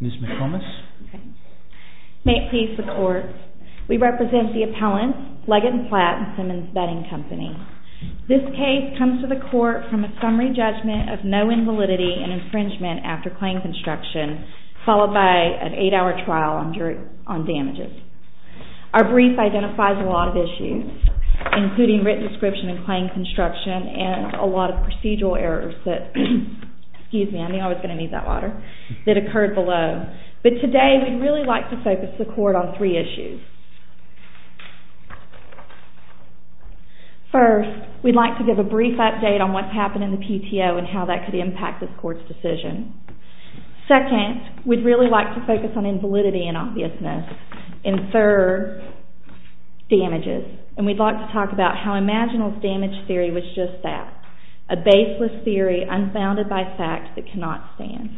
Ms. McComas May it please the court, we represent the appellant, Leggett & Platt & Simmons Betting Company. This case comes to the court from a summary judgment of no invalidity and infringement after claim construction, followed by an 8-hour trial on damages. Our brief identifies a lot of issues, including written description and claim construction, and a lot of procedural errors that occurred below. But today we'd really like to focus the court on three issues. First, we'd like to give a brief update on what's happened in the PTO and how that could impact this court's decision. Second, we'd really like to focus on invalidity and obviousness. And third, damages. And we'd like to talk about how IMAGINAL's damage theory was just that, a baseless theory unfounded by fact that cannot stand.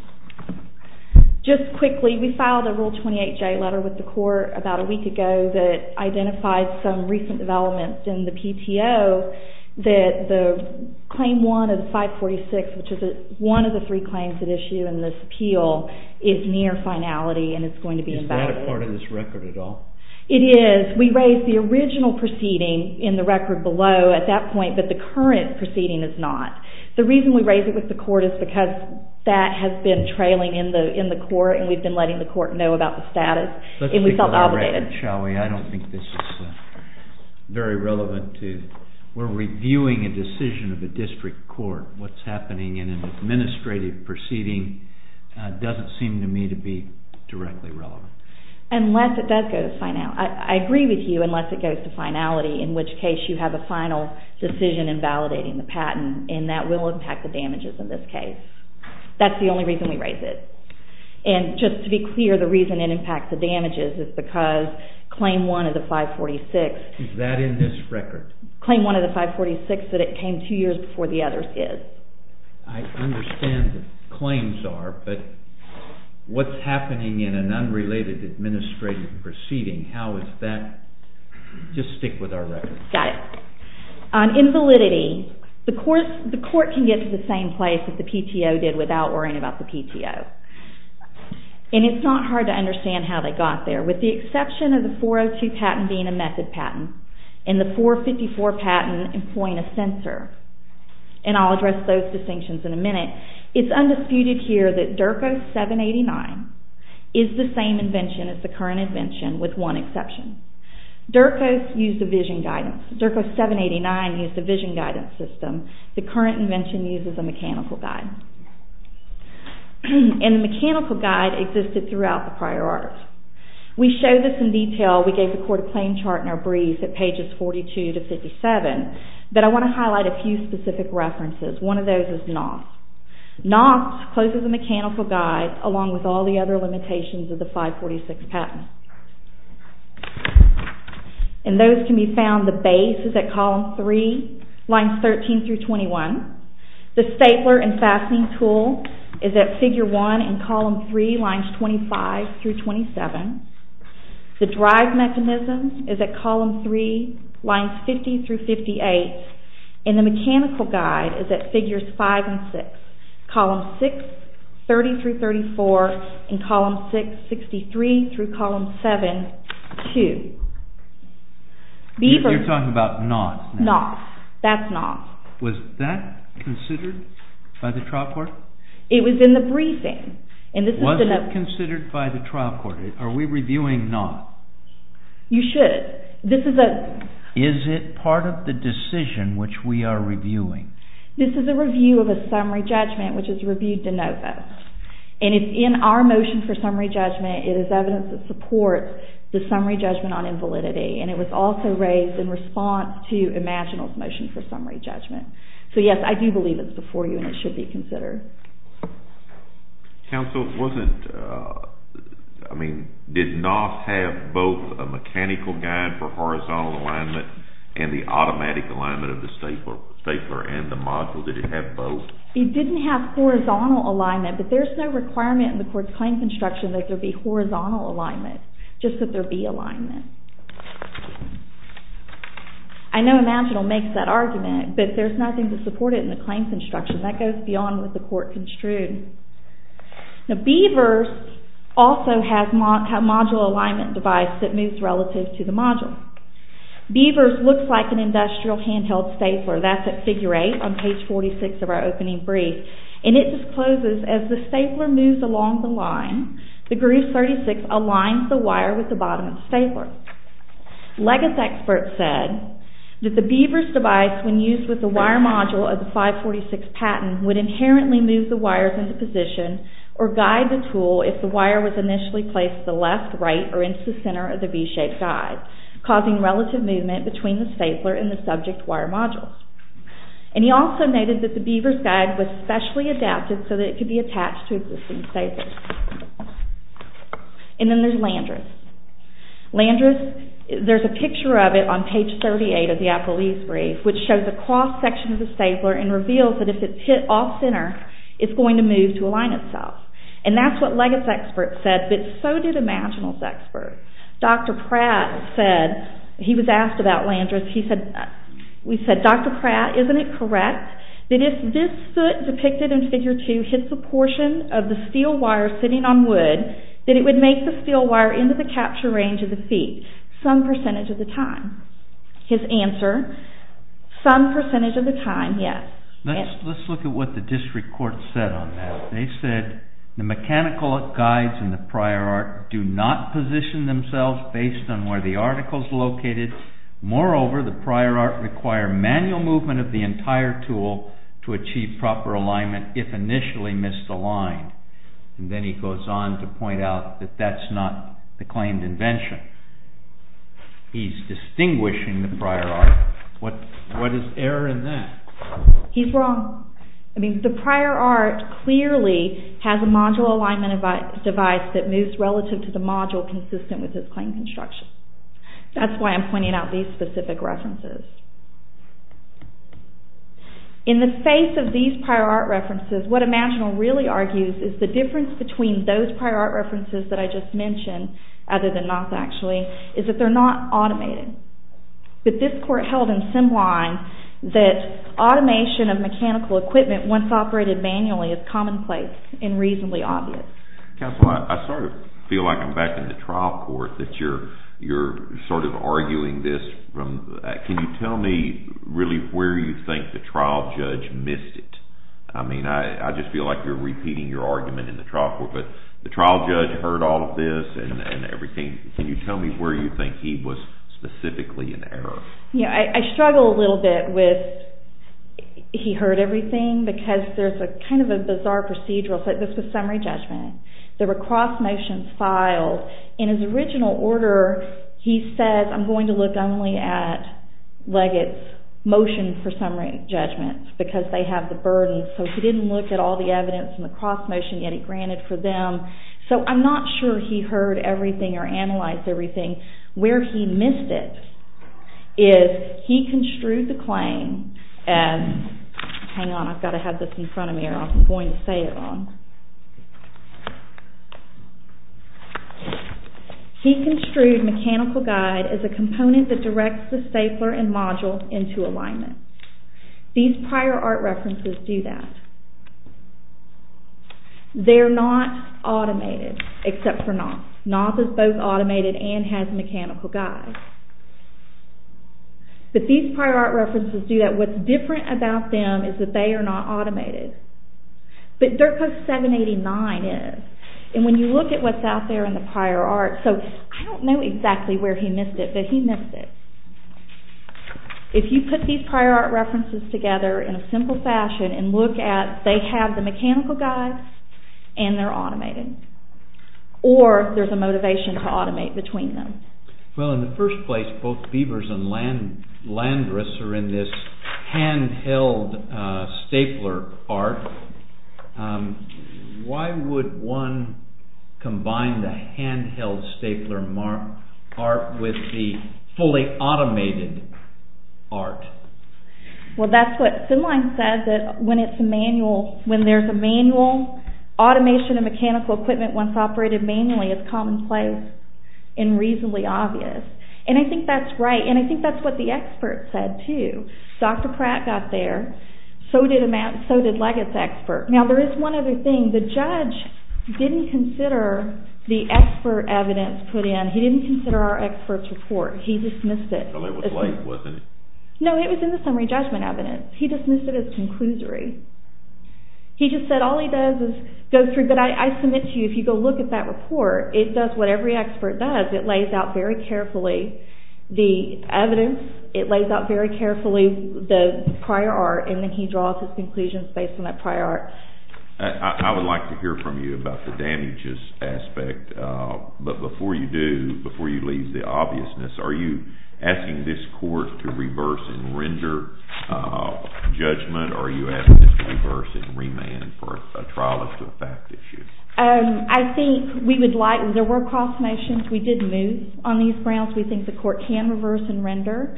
Just quickly, we filed a Rule 28J letter with the court about a week ago that identified some recent developments in the PTO that the Claim 1 of 546, which is one of the three claims at issue in this appeal, is near finality and is going to be invalid. Is that a part of this record at all? It is. We raised the original proceeding in the record below at that point, but the current proceeding is not. The reason we raised it with the court is because that has been trailing in the court and we've been letting the court know about the status and we felt obligated. Let's take a look at it, shall we? I don't think this is very relevant to... We're reviewing a decision of a district court. What's happening in an administrative proceeding doesn't seem to me to be directly relevant. I agree with you unless it goes to finality, in which case you have a final decision in validating the patent and that will impact the damages in this case. That's the only reason we raised it. And just to be clear, the reason it impacts the damages is because Claim 1 of the 546... Is that in this record? Claim 1 of the 546 that it came two years before the others is. I understand the claims are, but what's happening in an unrelated administrative proceeding, how is that... Just stick with our record. Got it. In validity, the court can get to the same place that the PTO did without worrying about the PTO. And it's not hard to understand how they got there. With the exception of the 402 patent being a method patent and the 454 patent employing a censor, and I'll address those distinctions in a minute, it's undisputed here that DERCOS 789 is the same invention as the current invention with one exception. DERCOS used a vision guidance. DERCOS 789 used a vision guidance system. The current invention uses a mechanical guide. And the mechanical guide existed throughout the prior art. We show this in detail. We gave the court a claim chart in our brief at pages 42 to 57. But I want to highlight a few specific references. One of those is NOS. NOS closes the mechanical guide along with all the other limitations of the 546 patent. And those can be found... The base is at column 3, lines 13 through 21. The stapler and fastening tool is at figure 1 and column 3, lines 25 through 27. The drive mechanism is at column 3, lines 50 through 58. And the mechanical guide is at figures 5 and 6. Columns 6, 30 through 34, and column 6, 63 through column 7, 2. You're talking about NOS. NOS. That's NOS. Was that considered by the trial court? It was in the briefing. Was it considered by the trial court? Are we reviewing NOS? You should. Is it part of the decision which we are reviewing? This is a review of a summary judgment which is reviewed de novo. And it's in our motion for summary judgment. It is evidence that supports the summary judgment on invalidity. And it was also raised in response to Imaginal's motion for summary judgment. So, yes, I do believe it's before you and it should be considered. Counsel, it wasn't... I mean, did NOS have both a mechanical guide for horizontal alignment and the automatic alignment of the stapler and the module? Did it have both? It didn't have horizontal alignment, but there's no requirement in the court's claim construction that there be horizontal alignment, just that there be alignment. I know Imaginal makes that argument, but there's nothing to support it in the claims construction. That goes beyond what the court construed. Now, Beavers also has a module alignment device that moves relative to the module. Beavers looks like an industrial handheld stapler. That's at figure 8 on page 46 of our opening brief. And it discloses as the stapler moves along the line, the groove 36 aligns the wire with the bottom of the stapler. Legas experts said that the Beavers device, when used with the wire module of the 546 patent, would inherently move the wires into position or guide the tool if the wire was initially placed to the left, right, or into the center of the V-shaped guide, causing relative movement between the stapler and the subject wire module. And he also noted that the Beavers guide was specially adapted so that it could be attached to existing staples. And then there's Landris. Landris, there's a picture of it on page 38 of the Appelese brief, which shows a cross-section of the stapler and reveals that if it's hit off-center, it's going to move to align itself. And that's what Legas experts said, but so did Imaginal's experts. Dr. Pratt said, he was asked about Landris, he said, we said, Dr. Pratt, isn't it correct that if this foot depicted in Figure 2 hits a portion of the steel wire sitting on wood, that it would make the steel wire into the capture range of the feet some percentage of the time? His answer, some percentage of the time, yes. Let's look at what the district court said on that. They said, the mechanical guides in the prior art do not position themselves based on where the article is located. Moreover, the prior art require manual movement of the entire tool to achieve proper alignment if initially misaligned. And then he goes on to point out that that's not the claimed invention. He's distinguishing the prior art. What is error in that? He's wrong. The prior art clearly has a module alignment device that moves relative to the module consistent with its claimed construction. That's why I'm pointing out these specific references. In the face of these prior art references, what Imaginal really argues is the difference between those prior art references that I just mentioned, other than not actually, is that they're not automated. But this court held in Simline that automation of mechanical equipment once operated manually is commonplace and reasonably obvious. Counsel, I sort of feel like I'm back in the trial court, that you're sort of arguing this. Can you tell me really where you think the trial judge missed it? I mean, I just feel like you're repeating your argument in the trial court, but the trial judge heard all of this and everything. Can you tell me where you think he was specifically in error? I struggle a little bit with he heard everything because there's kind of a bizarre procedural. This was summary judgment. There were cross motions filed. In his original order, he said, I'm going to look only at Leggett's motion for summary judgment because they have the burden. So he didn't look at all the evidence in the cross motion yet he granted for them. So I'm not sure he heard everything or analyzed everything. Where he missed it is he construed the claim as, hang on, I've got to have this in front of me or I'm going to say it wrong. He construed mechanical guide as a component that directs the stapler and module into alignment. These prior art references do that. They're not automated except for Knopf. Knopf is both automated and has mechanical guide. But these prior art references do that. What's different about them is that they are not automated. But Dirkhoff 789 is. And when you look at what's out there in the prior art, I don't know exactly where he missed it, but he missed it. If you put these prior art references together in a simple fashion and look at, they have the mechanical guide and they're automated. Or there's a motivation to automate between them. Well, in the first place, both Beavers and Landris are in this handheld stapler art. Why would one combine the handheld stapler art with the fully automated art? Well, that's what Finline said, that when there's a manual automation and mechanical equipment once operated manually is commonplace and reasonably obvious. And I think that's right. And I think that's what the experts said too. Dr. Pratt got there. So did Leggett's expert. Now, there is one other thing. The judge didn't consider the expert evidence put in. He didn't consider our expert's report. He dismissed it. No, it was in the summary judgment evidence. He dismissed it as conclusory. He just said all he does is go through. But I submit to you, if you go look at that report, it does what every expert does. It lays out very carefully the evidence. It lays out very carefully the prior art and then he draws his conclusions based on that prior art. I would like to hear from you about the damages aspect. But before you do, before you leave the obviousness, are you asking this court to reverse and render judgment or are you asking it to reverse and remand for a trial of the fact issue? I think we would like... There were cross motions. We did move on these grounds. We think the court can reverse and render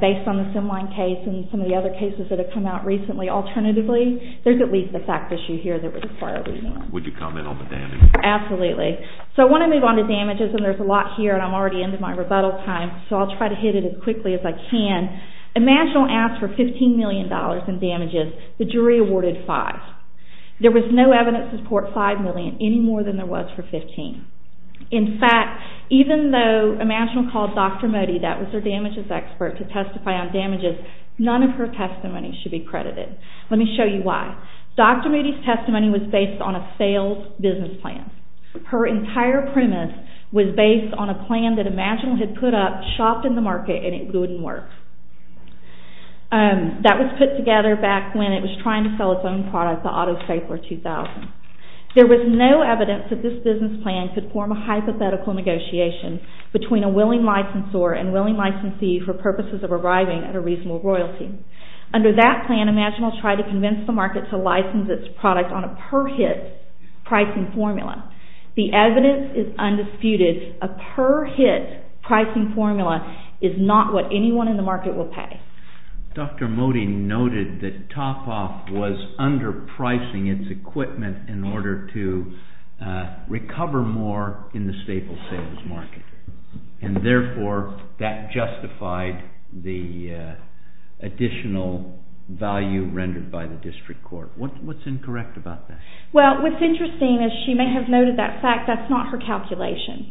based on the Finline case and some of the other cases that have come out recently. Alternatively, there's at least the fact issue here that would require a remand. Would you comment on the damages? Absolutely. So I want to move on to damages, and there's a lot here and I'm already into my rebuttal time, so I'll try to hit it as quickly as I can. Imaginal asked for $15 million in damages. The jury awarded $5 million. There was no evidence to support $5 million any more than there was for $15 million. In fact, even though Imaginal called Dr. Modi, that was their damages expert, to testify on damages, none of her testimony should be credited. Let me show you why. Dr. Modi's testimony was based on a failed business plan. Her entire premise was based on a plan that Imaginal had put up, shopped in the market, and it wouldn't work. That was put together back when it was trying to sell its own product, the Autosafe, for $2,000. There was no evidence that this business plan could form a hypothetical negotiation between a willing licensor and willing licensee for purposes of arriving at a reasonable royalty. Under that plan, Imaginal tried to convince the market to license its product on a per-hit pricing formula. The evidence is undisputed. A per-hit pricing formula is not what anyone in the market will pay. Dr. Modi noted that Topoff was underpricing its equipment in order to recover more in the staple sales market, and therefore that justified the additional value rendered by the district court. What's incorrect about that? What's interesting is she may have noted that fact that's not her calculation.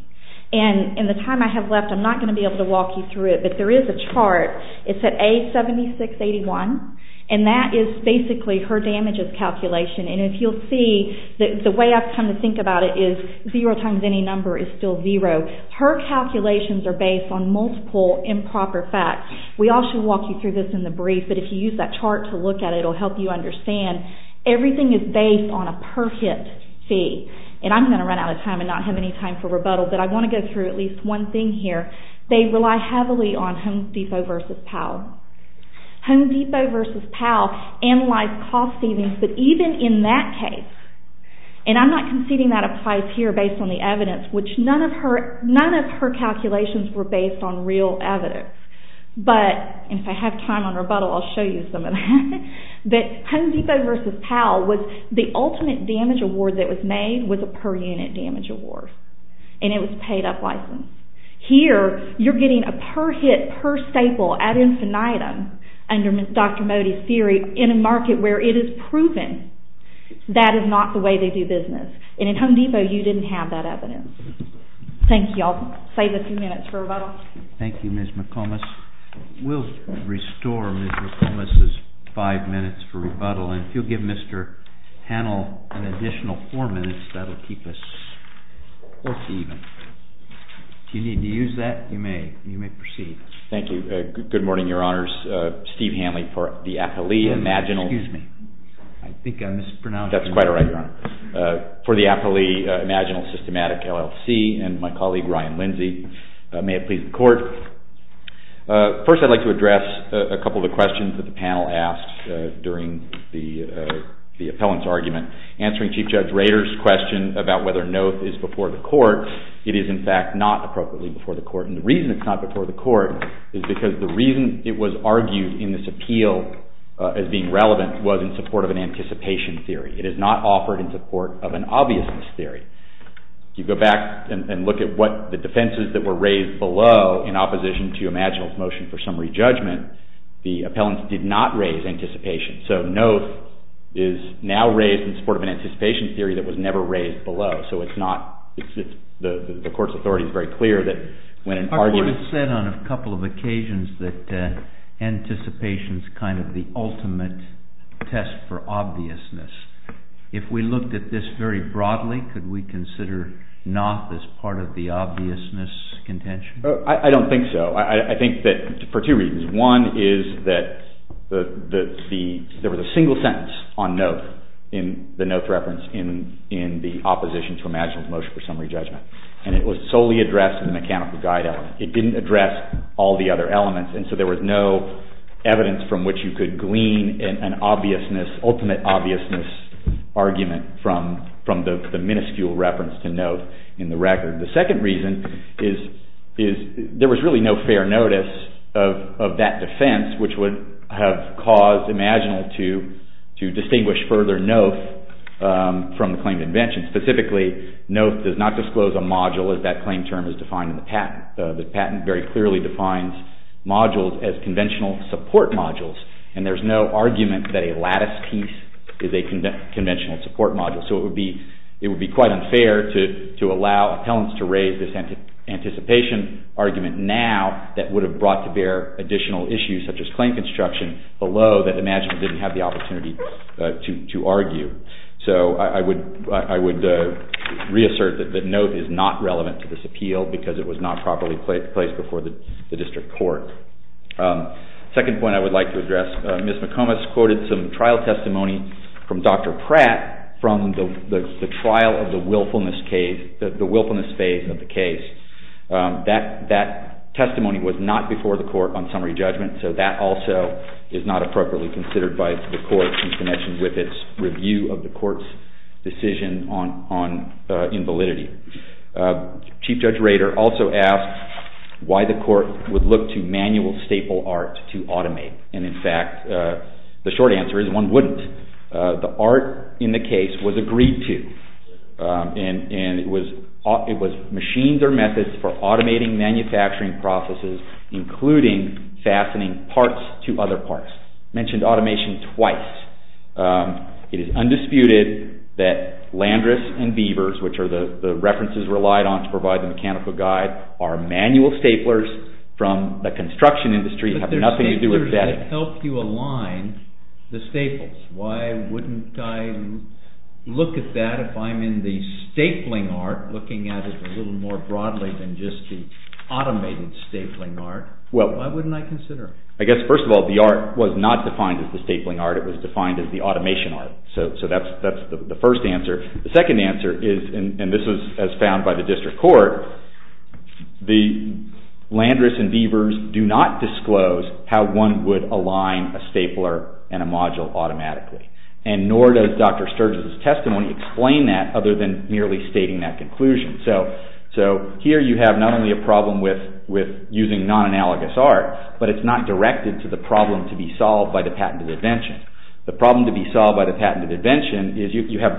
In the time I have left, I'm not going to be able to walk you through it, but there is a chart. It's at A7681, and that is basically her damages calculation. If you'll see, the way I've come to think about it is zero times any number is still zero. Her calculations are based on multiple improper facts. We all should walk you through this in the brief, but if you use that chart to look at it, it'll help you understand. Everything is based on a per-hit fee, and I'm going to run out of time and not have any time for rebuttal, but I want to go through at least one thing here. They rely heavily on Home Depot versus Powell. Home Depot versus Powell analyzed cost savings, but even in that case, and I'm not conceding that applies here based on the evidence, which none of her calculations were based on real evidence, but, and if I have time on rebuttal, I'll show you some of that, but Home Depot versus Powell, the ultimate damage award that was made was a per-unit damage award, and it was paid-up license. Here, you're getting a per-hit per-staple ad infinitum under Dr. Modi's theory in a market where it is proven that is not the way they do business, and in Home Depot, you didn't have that evidence. Thank you. I'll save a few minutes for rebuttal. Thank you, Ms. McComas. We'll restore Ms. McComas's five minutes for rebuttal, and if you'll give Mr. Hanl an additional four minutes, that'll keep us even. If you need to use that, you may. You may proceed. Thank you. Good morning, Your Honors. Steve Hanley for the athlete imaginal. Excuse me. I think I mispronounced. That's quite all right, Your Honor. For the athlete imaginal systematic LLC and my colleague, Ryan Lindsay. May it please the Court. First, I'd like to address a couple of the questions that the panel asked during the appellant's argument. Answering Chief Judge Rader's question about whether NOTH is before the Court, it is, in fact, not appropriately before the Court, and the reason it's not before the Court is because the reason it was argued in this appeal as being relevant was in support of an anticipation theory. It is not offered in support of an obviousness theory. If you go back and look at the defenses that were raised below in opposition to imaginal's motion for summary judgment, the appellant did not raise anticipation. So, NOTH is now raised in support of an anticipation theory that was never raised below. So, the Court's authority is very clear that when an argument... Our Court has said on a couple of occasions that anticipation is kind of the ultimate test for obviousness. If we looked at this very broadly, could we consider NOTH as part of the obviousness contention? I don't think so. I think that for two reasons. One is that there was a single sentence on NOTH in the NOTH reference in the opposition to imaginal's motion for summary judgment, and it was solely addressed in the mechanical guide element. It didn't address all the other elements, and so there was no evidence from which you could glean an ultimate obviousness argument from the minuscule reference to NOTH in the record. The second reason is there was really no fair notice of that defense, which would have caused imaginal to distinguish further NOTH from the claim to invention. Specifically, NOTH does not disclose a module as that claim term is defined in the patent. The patent very clearly defines modules as conventional support modules, and there's no argument that a lattice piece is a conventional support module. So it would be quite unfair to allow appellants to raise this anticipation argument now that would have brought to bear additional issues such as claim construction below that imaginal didn't have the opportunity to argue. So I would reassert that NOTH is not relevant to this appeal because it was not properly placed before the district court. The second point I would like to address, Ms. McComas quoted some trial testimony from Dr. Pratt from the trial of the willfulness phase of the case. That testimony was not before the court on summary judgment, so that also is not appropriately considered by the court in connection with its review of the court's decision on invalidity. Chief Judge Rader also asked why the court would look to manual staple art to automate, and in fact, the short answer is one wouldn't. The art in the case was agreed to, and it was machines or methods for automating manufacturing processes, including fastening parts to other parts. I mentioned automation twice. It is undisputed that Landris and Beavers, which are the references relied on to provide the mechanical guide, are manual staplers from the construction industry and have nothing to do with that. But they're staplers that help you align the staples. Why wouldn't I look at that if I'm in the stapling art, looking at it a little more broadly than just the automated stapling art? Why wouldn't I consider it? I guess, first of all, the art was not defined as the stapling art. It was defined as the automation art. So that's the first answer. The second answer is, and this is as found by the district court, the Landris and Beavers do not disclose how one would align a stapler and a module automatically, and nor does Dr. Sturges' testimony explain that other than merely stating that conclusion. So here you have not only a problem with using non-analogous art, but it's not directed to the problem to be solved by the patented invention. The problem to be solved by the patented invention is you have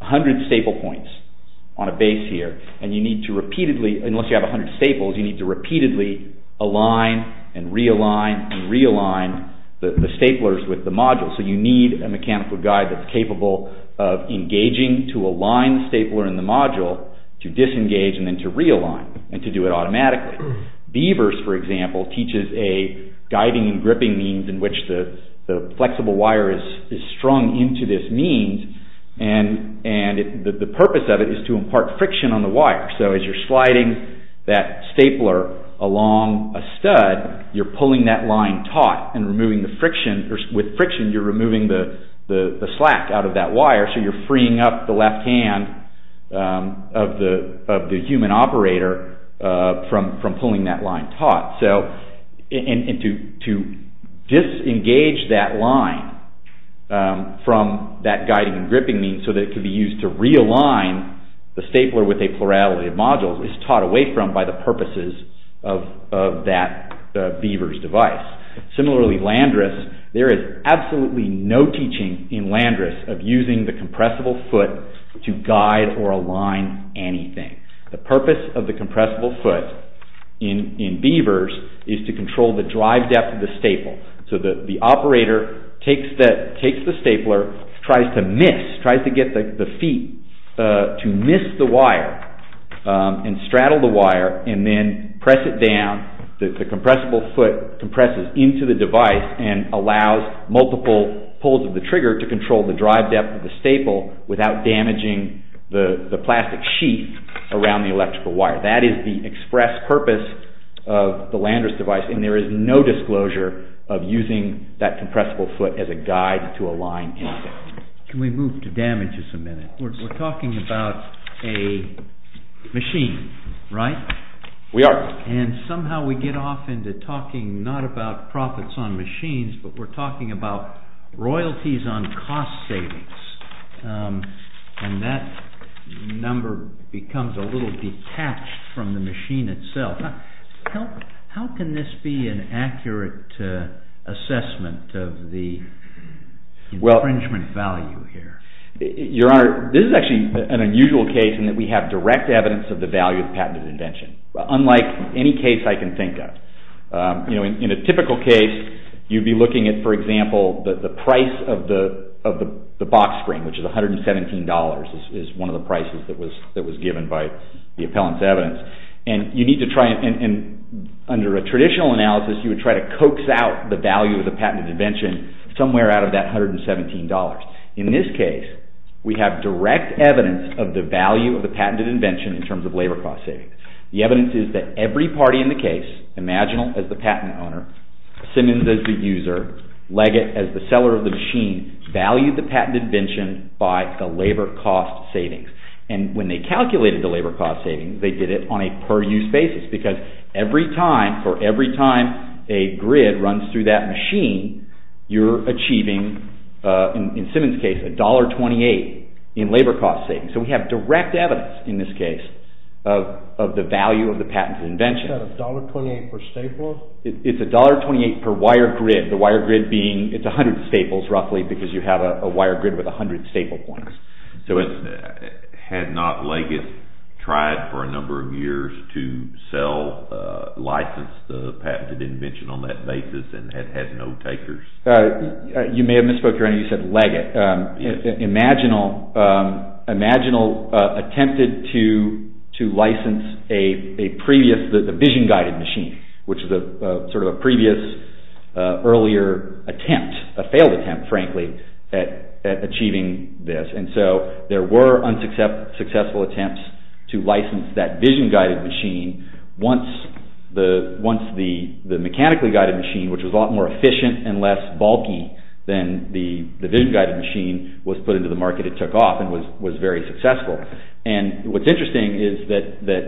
100 staple points on a base here, and you need to repeatedly, unless you have 100 staples, you need to repeatedly align and realign and realign the staplers with the module. So you need a mechanical guide that's capable of engaging to align the stapler and the module to disengage and then to realign and to do it automatically. Beavers, for example, teaches a guiding and gripping means in which the flexible wire is strung into this means, and the purpose of it is to impart friction on the wire. So as you're sliding that stapler along a stud, you're pulling that line taut and removing the friction, or with friction you're removing the slack out of that wire, so you're freeing up the left hand of the human operator from pulling that line taut. And to disengage that line from that guiding and gripping means so that it could be used to realign the stapler with a plurality of modules is taught away from by the purposes of that beaver's device. Similarly, Landris, there is absolutely no teaching in Landris of using the compressible foot to guide or align anything. The purpose of the compressible foot in beavers is to control the drive depth of the staple. So the operator takes the stapler, tries to miss, tries to get the feet to miss the wire and straddle the wire and then press it down. The compressible foot compresses into the device and allows multiple pulls of the trigger to control the drive depth of the staple without damaging the plastic sheath around the electrical wire. That is the express purpose of the Landris device and there is no disclosure of using that compressible foot as a guide to align anything. Can we move to damages a minute? We're talking about a machine, right? We are. And somehow we get off into talking not about profits on machines, but we're talking about royalties on cost savings and that number becomes a little detached from the machine itself. How can this be an accurate assessment of the infringement value here? Your Honor, this is actually an unusual case in that we have direct evidence of the value of the patented invention, unlike any case I can think of. In a typical case, you'd be looking at, for example, the price of the box spring, which is $117, is one of the prices that was given by the appellant's evidence. And under a traditional analysis, you would try to coax out the value of the patented invention somewhere out of that $117. In this case, we have direct evidence of the value of the patented invention in terms of labor cost savings. The evidence is that every party in the case, Imaginal as the patent owner, Simmons as the user, Leggett as the seller of the machine, valued the patented invention by the labor cost savings. And when they calculated the labor cost savings, they did it on a per-use basis because every time a grid runs through that machine, you're achieving, in Simmons' case, $1.28 in labor cost savings. So we have direct evidence, in this case, of the value of the patented invention. Is that $1.28 per stapler? It's $1.28 per wire grid, the wire grid being it's 100 staples roughly because you have a wire grid with 100 staple points. So had not Leggett tried for a number of years to sell, license the patented invention on that basis and had no takers? You may have misspoke here. You said Leggett. Imaginal attempted to license a vision-guided machine, which is sort of a previous earlier attempt, a failed attempt, frankly, at achieving this. And so there were unsuccessful attempts to license that vision-guided machine once the mechanically-guided machine, which was a lot more efficient and less bulky than the vision-guided machine, was put into the market it took off and was very successful. And what's interesting is that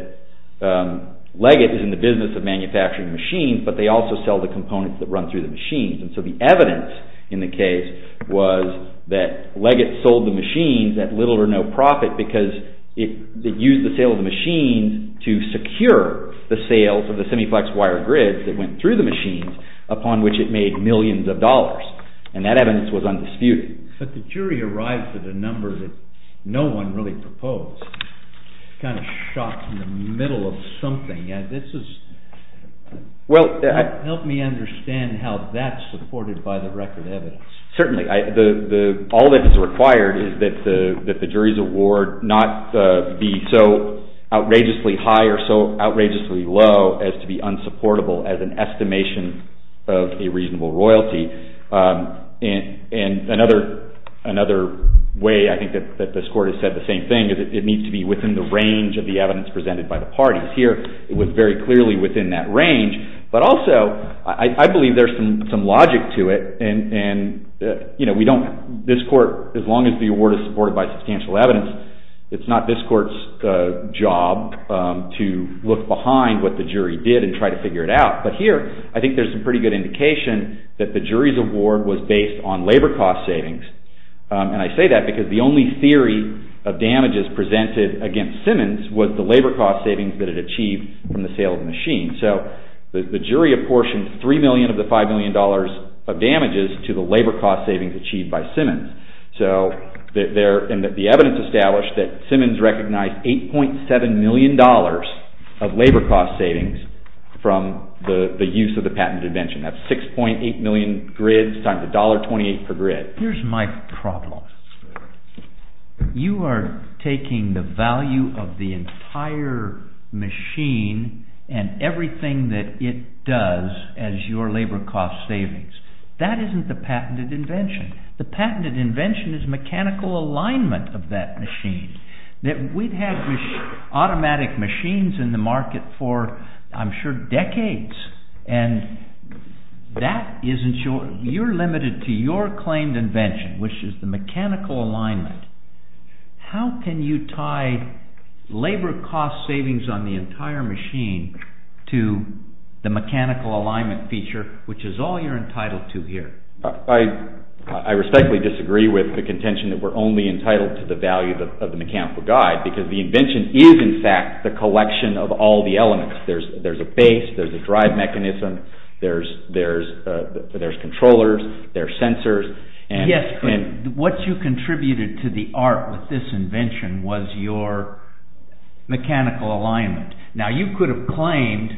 Leggett is in the business of manufacturing machines, but they also sell the components that run through the machines. And so the evidence in the case was that Leggett sold the machines at little or no profit because it used the sale of the machines to secure the sales of the semiflex wire grids that went through the machines upon which it made millions of dollars. And that evidence was undisputed. But the jury arrived at a number that no one really proposed. Kind of shot in the middle of something. This is... Help me understand how that's supported by the record evidence. Certainly. All that is required is that the jury's award not be so outrageously high or so outrageously low as to be unsupportable as an estimation of a reasonable royalty. And another way, I think, that this Court has said the same thing is it needs to be within the range of the evidence presented by the parties. Here, it was very clearly within that range. But also, I believe there's some logic to it. And, you know, we don't... This Court, as long as the award is supported by substantial evidence, it's not this Court's job to look behind what the jury did and try to figure it out. But here, I think there's some pretty good indication that the jury's award was based on labor cost savings. And I say that because the only theory of damages presented against Simmons was the labor cost savings that it achieved from the sale of the machine. So the jury apportioned $3 million of the $5 million of damages to the labor cost savings achieved by Simmons. So the evidence established that Simmons recognized $8.7 million of labor cost savings from the use of the patented invention. That's 6.8 million grids times $1.28 per grid. Here's my problem. You are taking the value of the entire machine and everything that it does as your labor cost savings. That isn't the patented invention. The patented invention is mechanical alignment of that machine. We've had automatic machines in the market for, I'm sure, decades. And that isn't your... You're limited to your claimed invention, which is the mechanical alignment. How can you tie labor cost savings on the entire machine to the mechanical alignment feature, which is all you're entitled to here? I respectfully disagree with the contention that we're only entitled to the value of the mechanical guide because the invention is, in fact, the collection of all the elements. There's a base. There's a drive mechanism. There's controllers. There's sensors. Yes, but what you contributed to the art with this invention was your mechanical alignment. Now, you could have claimed...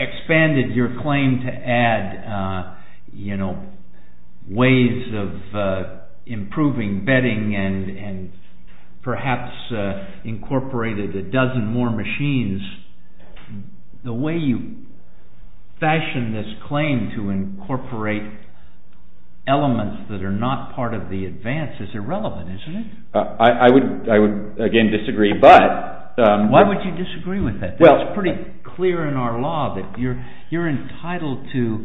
expanded your claim to add ways of improving bedding and perhaps incorporated a dozen more machines. The way you fashioned this claim to incorporate elements that are not part of the advance is irrelevant, isn't it? I would, again, disagree, but... Why would you disagree with it? It's pretty clear in our law that you're entitled to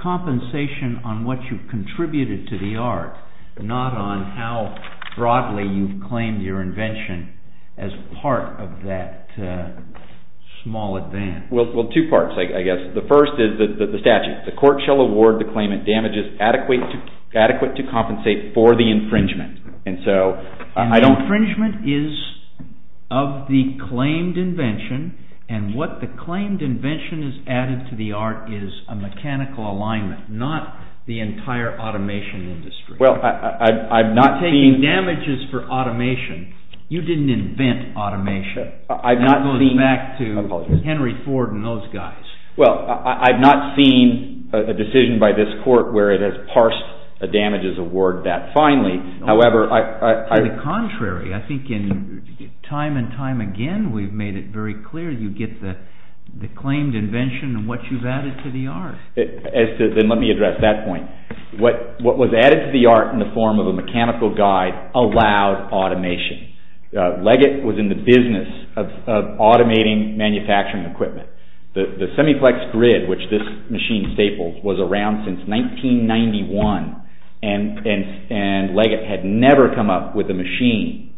compensation on what you've contributed to the art, not on how broadly you've claimed your invention as part of that small advance. Well, two parts, I guess. The first is the statute. The court shall award the claimant damages adequate to compensate for the infringement. And the infringement is of the claimed invention and what the claimed invention has added to the art is a mechanical alignment, not the entire automation industry. Well, I've not seen... You're taking damages for automation. You didn't invent automation. That goes back to Henry Ford and those guys. Well, I've not seen a decision by this court where it has parsed a damages award that finely. However, I... To the contrary. I think time and time again we've made it very clear you get the claimed invention and what you've added to the art. As to... Then let me address that point. What was added to the art in the form of a mechanical guide allowed automation. Leggett was in the business of automating manufacturing equipment. The Semiflex grid, which this machine staples, was around since 1991, and Leggett had never come up with a machine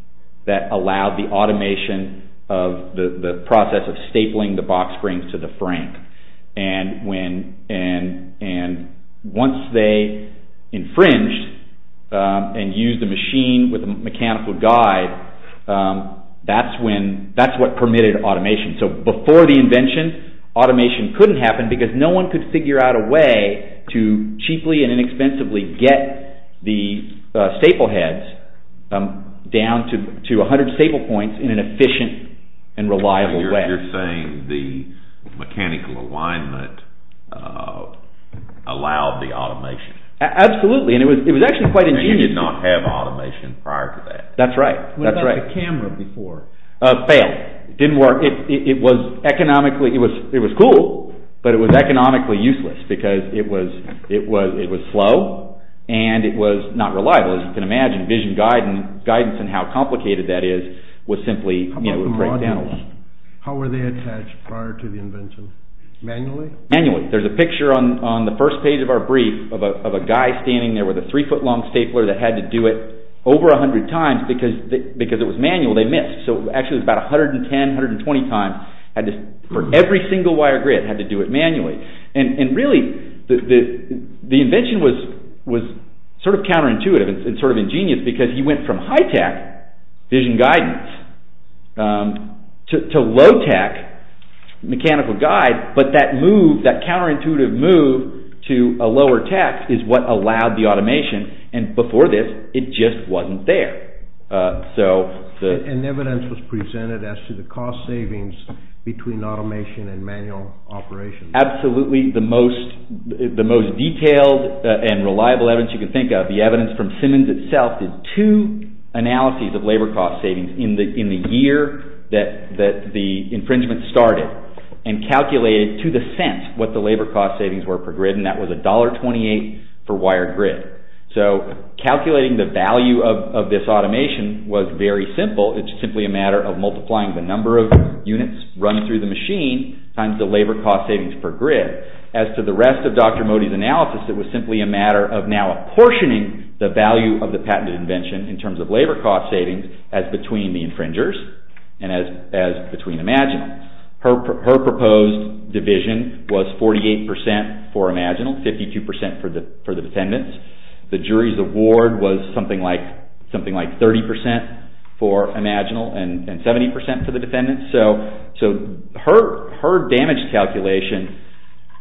that allowed the automation of the process of stapling the box springs to the frame. And when... And once they infringed and used the machine with the mechanical guide, that's when... That's what permitted automation. So before the invention, automation couldn't happen because no one could figure out a way to cheaply and inexpensively get the staple heads down to 100 staple points in an efficient and reliable way. You're saying the mechanical alignment allowed the automation. Absolutely. And it was actually quite ingenious. And you did not have automation prior to that. That's right. What about the camera before? Failed. Didn't work. It was economically... It was cool, but it was economically useless because it was slow, and it was not reliable. As you can imagine, vision guidance and how complicated that is was simply... How about the modules? How were they attached prior to the invention? Manually? Manually. There's a picture on the first page of our brief of a guy standing there with a 3-foot-long stapler that had to do it over 100 times because it was manual. They missed. So actually it was about 110, 120 times. For every single wire grid, had to do it manually. And really, the invention was sort of counterintuitive and sort of ingenious because he went from high-tech vision guidance to low-tech mechanical guide, but that move, that counterintuitive move to a lower tech is what allowed the automation. And before this, it just wasn't there. So... And evidence was presented as to the cost savings between automation and manual operation. Absolutely the most detailed and reliable evidence you can think of. The evidence from Simmons itself did two analyses of labor cost savings in the year that the infringement started and calculated to the cents what the labor cost savings were per grid, and that was $1.28 for wired grid. So calculating the value of this automation was very simple. It's simply a matter of multiplying the number of units run through the machine times the labor cost savings per grid. As to the rest of Dr. Modi's analysis, it was simply a matter of now apportioning the value of the patented invention in terms of labor cost savings as between the infringers and as between Imaginal. Her proposed division was 48% for Imaginal, 52% for the defendants. The jury's award was something like 30% for Imaginal and 70% for the defendants. So her damage calculation,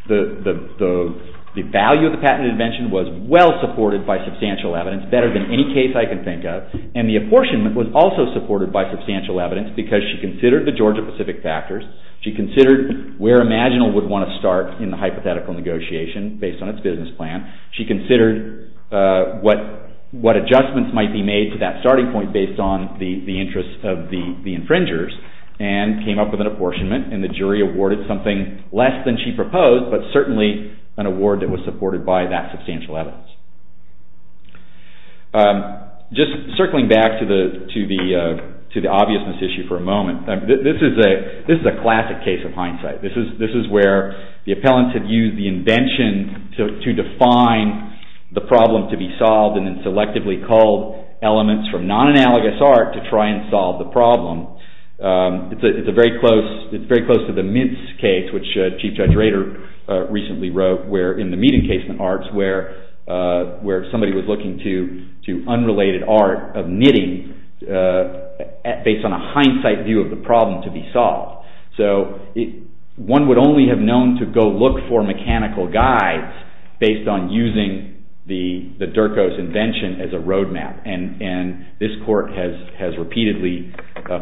the value of the patented invention was well supported by substantial evidence, better than any case I can think of, and the apportionment was also supported by substantial evidence because she considered the Georgia-Pacific factors, she considered where Imaginal would want to start in the hypothetical negotiation based on its business plan, she considered what adjustments might be made to that starting point based on the interests of the infringers, and came up with an apportionment, and the jury awarded something less than she proposed, but certainly an award that was supported by that substantial evidence. Just circling back to the obviousness issue for a moment, this is a classic case of hindsight. This is where the appellants had used the invention to define the problem to be solved and then selectively called elements from non-analogous art to try and solve the problem. It's very close to the Mintz case, which Chief Judge Rader recently wrote, in the Meat Encasement Arts, where somebody was looking to unrelated art of knitting based on a hindsight view of the problem to be solved. So one would only have known to go look for mechanical guides based on using the Durko's invention as a roadmap, and this court has repeatedly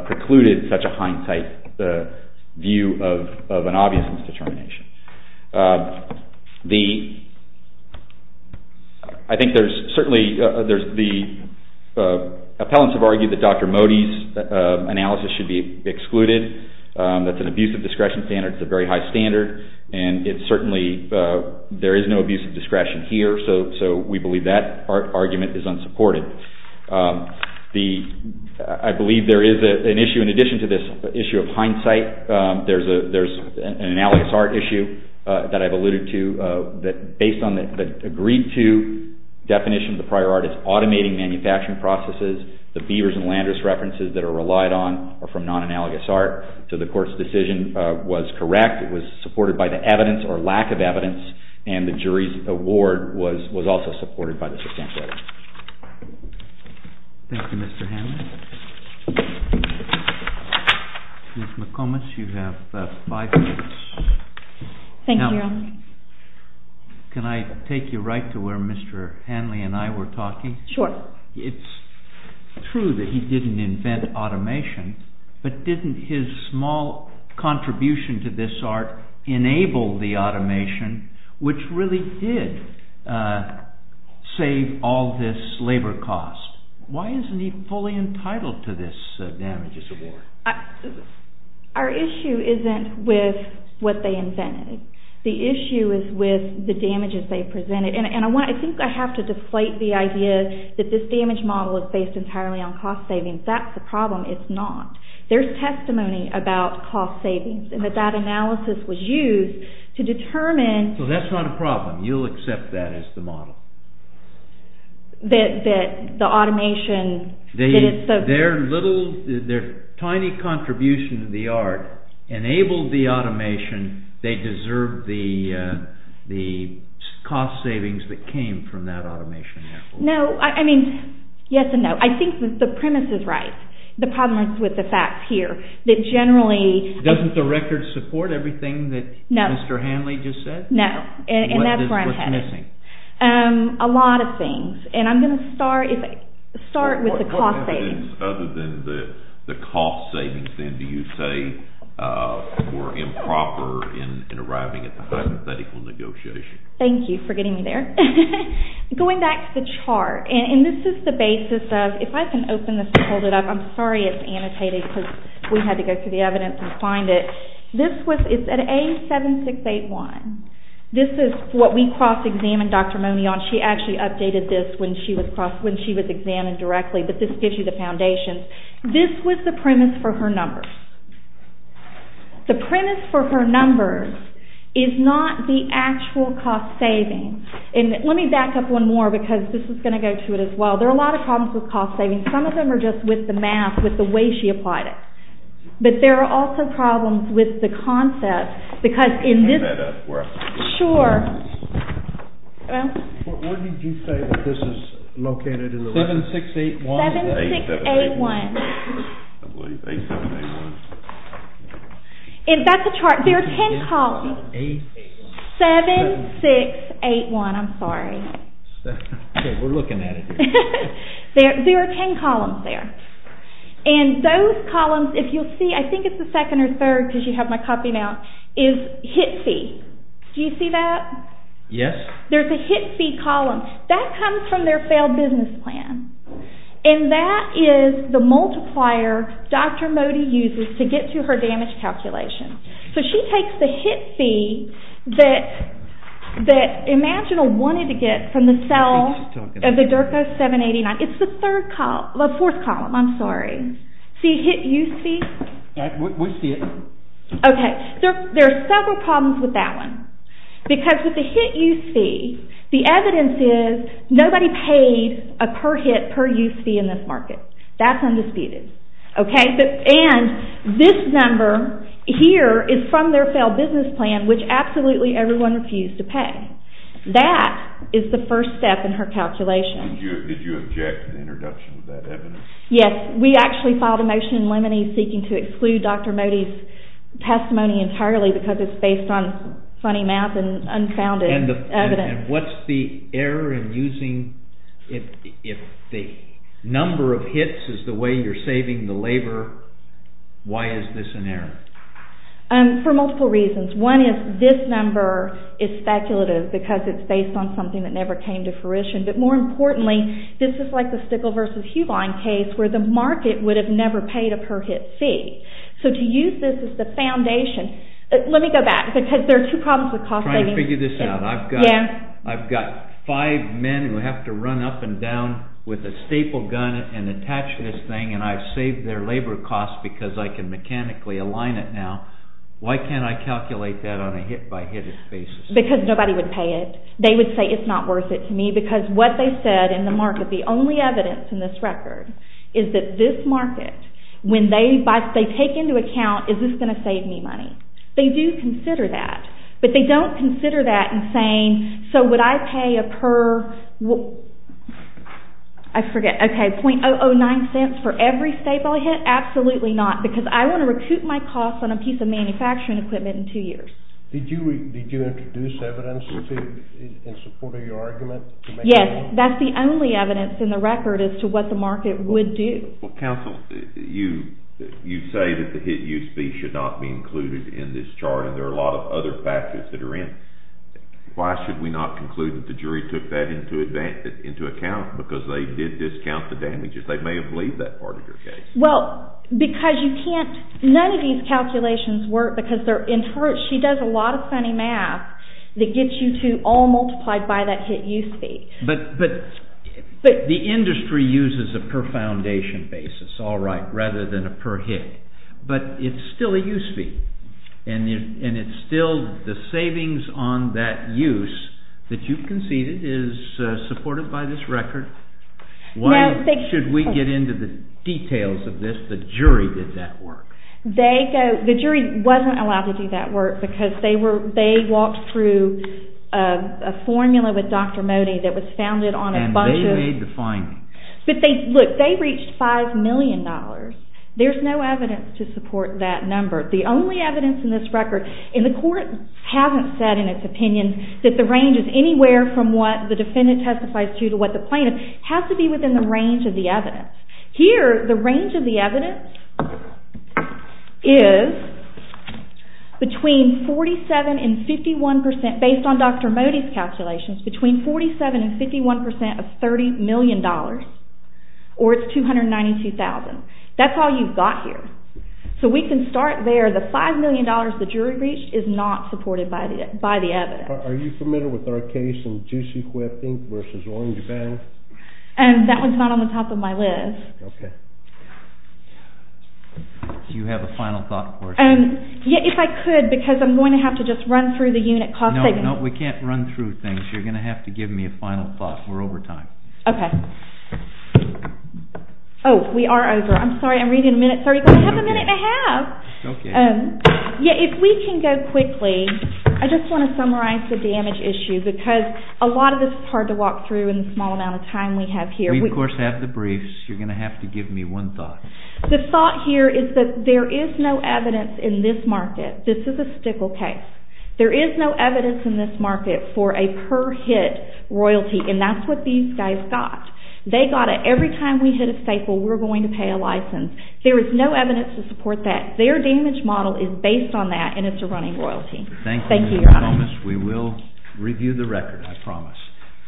precluded such a hindsight view of an obviousness determination. I think there's certainly... The appellants have argued that Dr. Modi's analysis should be excluded. That's an abusive discretion standard. It's a very high standard, and it's certainly... There is no abusive discretion here, so we believe that argument is unsupported. I believe there is an issue in addition to this issue of hindsight. There's an analogous art issue that I've alluded to that based on the agreed-to definition of the prior art is automating manufacturing processes. The Beavers and Landers references that are relied on are from non-analogous art, so the court's decision was correct. It was supported by the evidence or lack of evidence, and the jury's award was also supported by this example. Thank you, Mr. Hanley. Ms. McComas, you have five minutes. Thank you, Your Honor. Can I take you right to where Mr. Hanley and I were talking? Sure. It's true that he didn't invent automation, but didn't his small contribution to this art enable the automation, which really did save all this labor cost? Why isn't he fully entitled to this damages award? Our issue isn't with what they invented. The issue is with the damages they presented, and I think I have to deflate the idea that this damage model is based entirely on cost savings. That's the problem. It's not. There's testimony about cost savings, and that that analysis was used to determine... So that's not a problem. You'll accept that as the model? That the automation... Their little, their tiny contribution to the art enabled the automation. They deserved the cost savings that came from that automation, therefore. No, I mean, yes and no. I think the premise is right. The problem is with the facts here. Doesn't the record support everything that Mr. Hanley just said? No, and that's where I'm headed. What's missing? A lot of things, and I'm going to start with the cost savings. What evidence other than the cost savings, then, do you say were improper in arriving at the hypothetical negotiation? Thank you for getting me there. Going back to the chart, and this is the basis of... If I can open this and hold it up. I'm sorry it's annotated because we had to go through the evidence and find it. This was at A7681. This is what we cross-examined Dr. Mone on. She actually updated this when she was examined directly, but this gives you the foundations. This was the premise for her numbers. The premise for her numbers is not the actual cost savings. And let me back up one more because this is going to go to it as well. There are a lot of problems with cost savings. Some of them are just with the math, with the way she applied it. But there are also problems with the concept because in this... Can you bring that up for us? Sure. Where did you say that this is located? 7681. 7681. I believe, 7681. That's the chart. There are 10 columns. 7681. 7681. I'm sorry. We're looking at it here. There are 10 columns there. And those columns, if you'll see, I think it's the second or third because you have my copy now, is HIT-C. Do you see that? Yes. There's a HIT-C column. That comes from their failed business plan. And that is the multiplier Dr. Mone uses to get to her damage calculation. So she takes the HIT fee that Imaginal wanted to get from the cell of the DERCO 789. It's the fourth column. I'm sorry. See HIT-Use fee? We see it. Okay. There are several problems with that one because with the HIT-Use fee, the evidence is nobody paid a per HIT per use fee in this market. That's undisputed. Okay? And this number here is from their failed business plan, which absolutely everyone refused to pay. That is the first step in her calculation. Did you object to the introduction of that evidence? Yes. We actually filed a motion in limine seeking to exclude Dr. Mone's testimony entirely because it's based on funny mouth and unfounded evidence. And what's the error in using if the number of HITs is the way you're Why is this an error? For multiple reasons. One is this number is speculative because it's based on something that never came to fruition. But more importantly, this is like the Stickle versus Huline case where the market would have never paid a per HIT fee. So to use this as the foundation, let me go back because there are two problems with cost savings. I'm trying to figure this out. I've got five men who have to run up and down with a staple gun and attach this thing and I've saved their labor costs because I can mechanically align it now. Why can't I calculate that on a HIT by HIT basis? Because nobody would pay it. They would say it's not worth it to me because what they said in the market, the only evidence in this record, is that this market, when they take into account, is this going to save me money? They do consider that. But they don't consider that in saying, so would I pay a per, I forget, okay, .009 cents for every staple HIT? Absolutely not because I want to recoup my costs on a piece of manufacturing equipment in two years. Did you introduce evidence in support of your argument? Yes. That's the only evidence in the record as to what the market would do. Counsel, you say that the HIT use fee should not be included in this chart and there are a lot of other factors that are in. Why should we not conclude that the jury took that into account because they did discount the damages? They may have believed that part of your case. Well, because you can't, none of these calculations work because they're, she does a lot of funny math that gets you to all multiplied by that HIT use fee. But the industry uses a per foundation basis, all right, rather than a per HIT. But it's still a use fee and it's still the savings on that use that you've conceded is supported by this record. Why should we get into the details of this? The jury did that work. They go, the jury wasn't allowed to do that work because they were, they walked through a formula with Dr. Mody that was founded on a bunch of. And they made the findings. But they, look, they reached $5 million. There's no evidence to support that number. The only evidence in this record, and the court hasn't said in its opinion that the range is anywhere from what the defendant testifies to to what the plaintiff, has to be within the range of the evidence. Here, the range of the evidence is between 47 and 51 percent, based on Dr. Mody's calculations, between 47 and 51 percent of $30 million or it's $292,000. That's all you've got here. So we can start there. The $5 million the jury reached is not supported by the evidence. Are you familiar with our case in Juicy Quip Inc. versus Orange Bend? That one's not on the top of my list. Okay. Do you have a final thought for us? Yeah, if I could, because I'm going to have to just run through the unit cost statement. No, no, we can't run through things. You're going to have to give me a final thought. We're over time. Okay. Oh, we are over. I'm sorry, I'm reading a minute and a half. Okay. Yeah, if we can go quickly. I just want to summarize the damage issue, because a lot of this is hard to walk through in the small amount of time we have here. We, of course, have the briefs. You're going to have to give me one thought. The thought here is that there is no evidence in this market. This is a stickle case. There is no evidence in this market for a per hit royalty, and that's what these guys got. They got it every time we hit a staple, we're going to pay a license. There is no evidence to support that. Their damage model is based on that, and it's a running royalty. Thank you, Your Honor. Thank you, Ms. Thomas. We will review the record, I promise.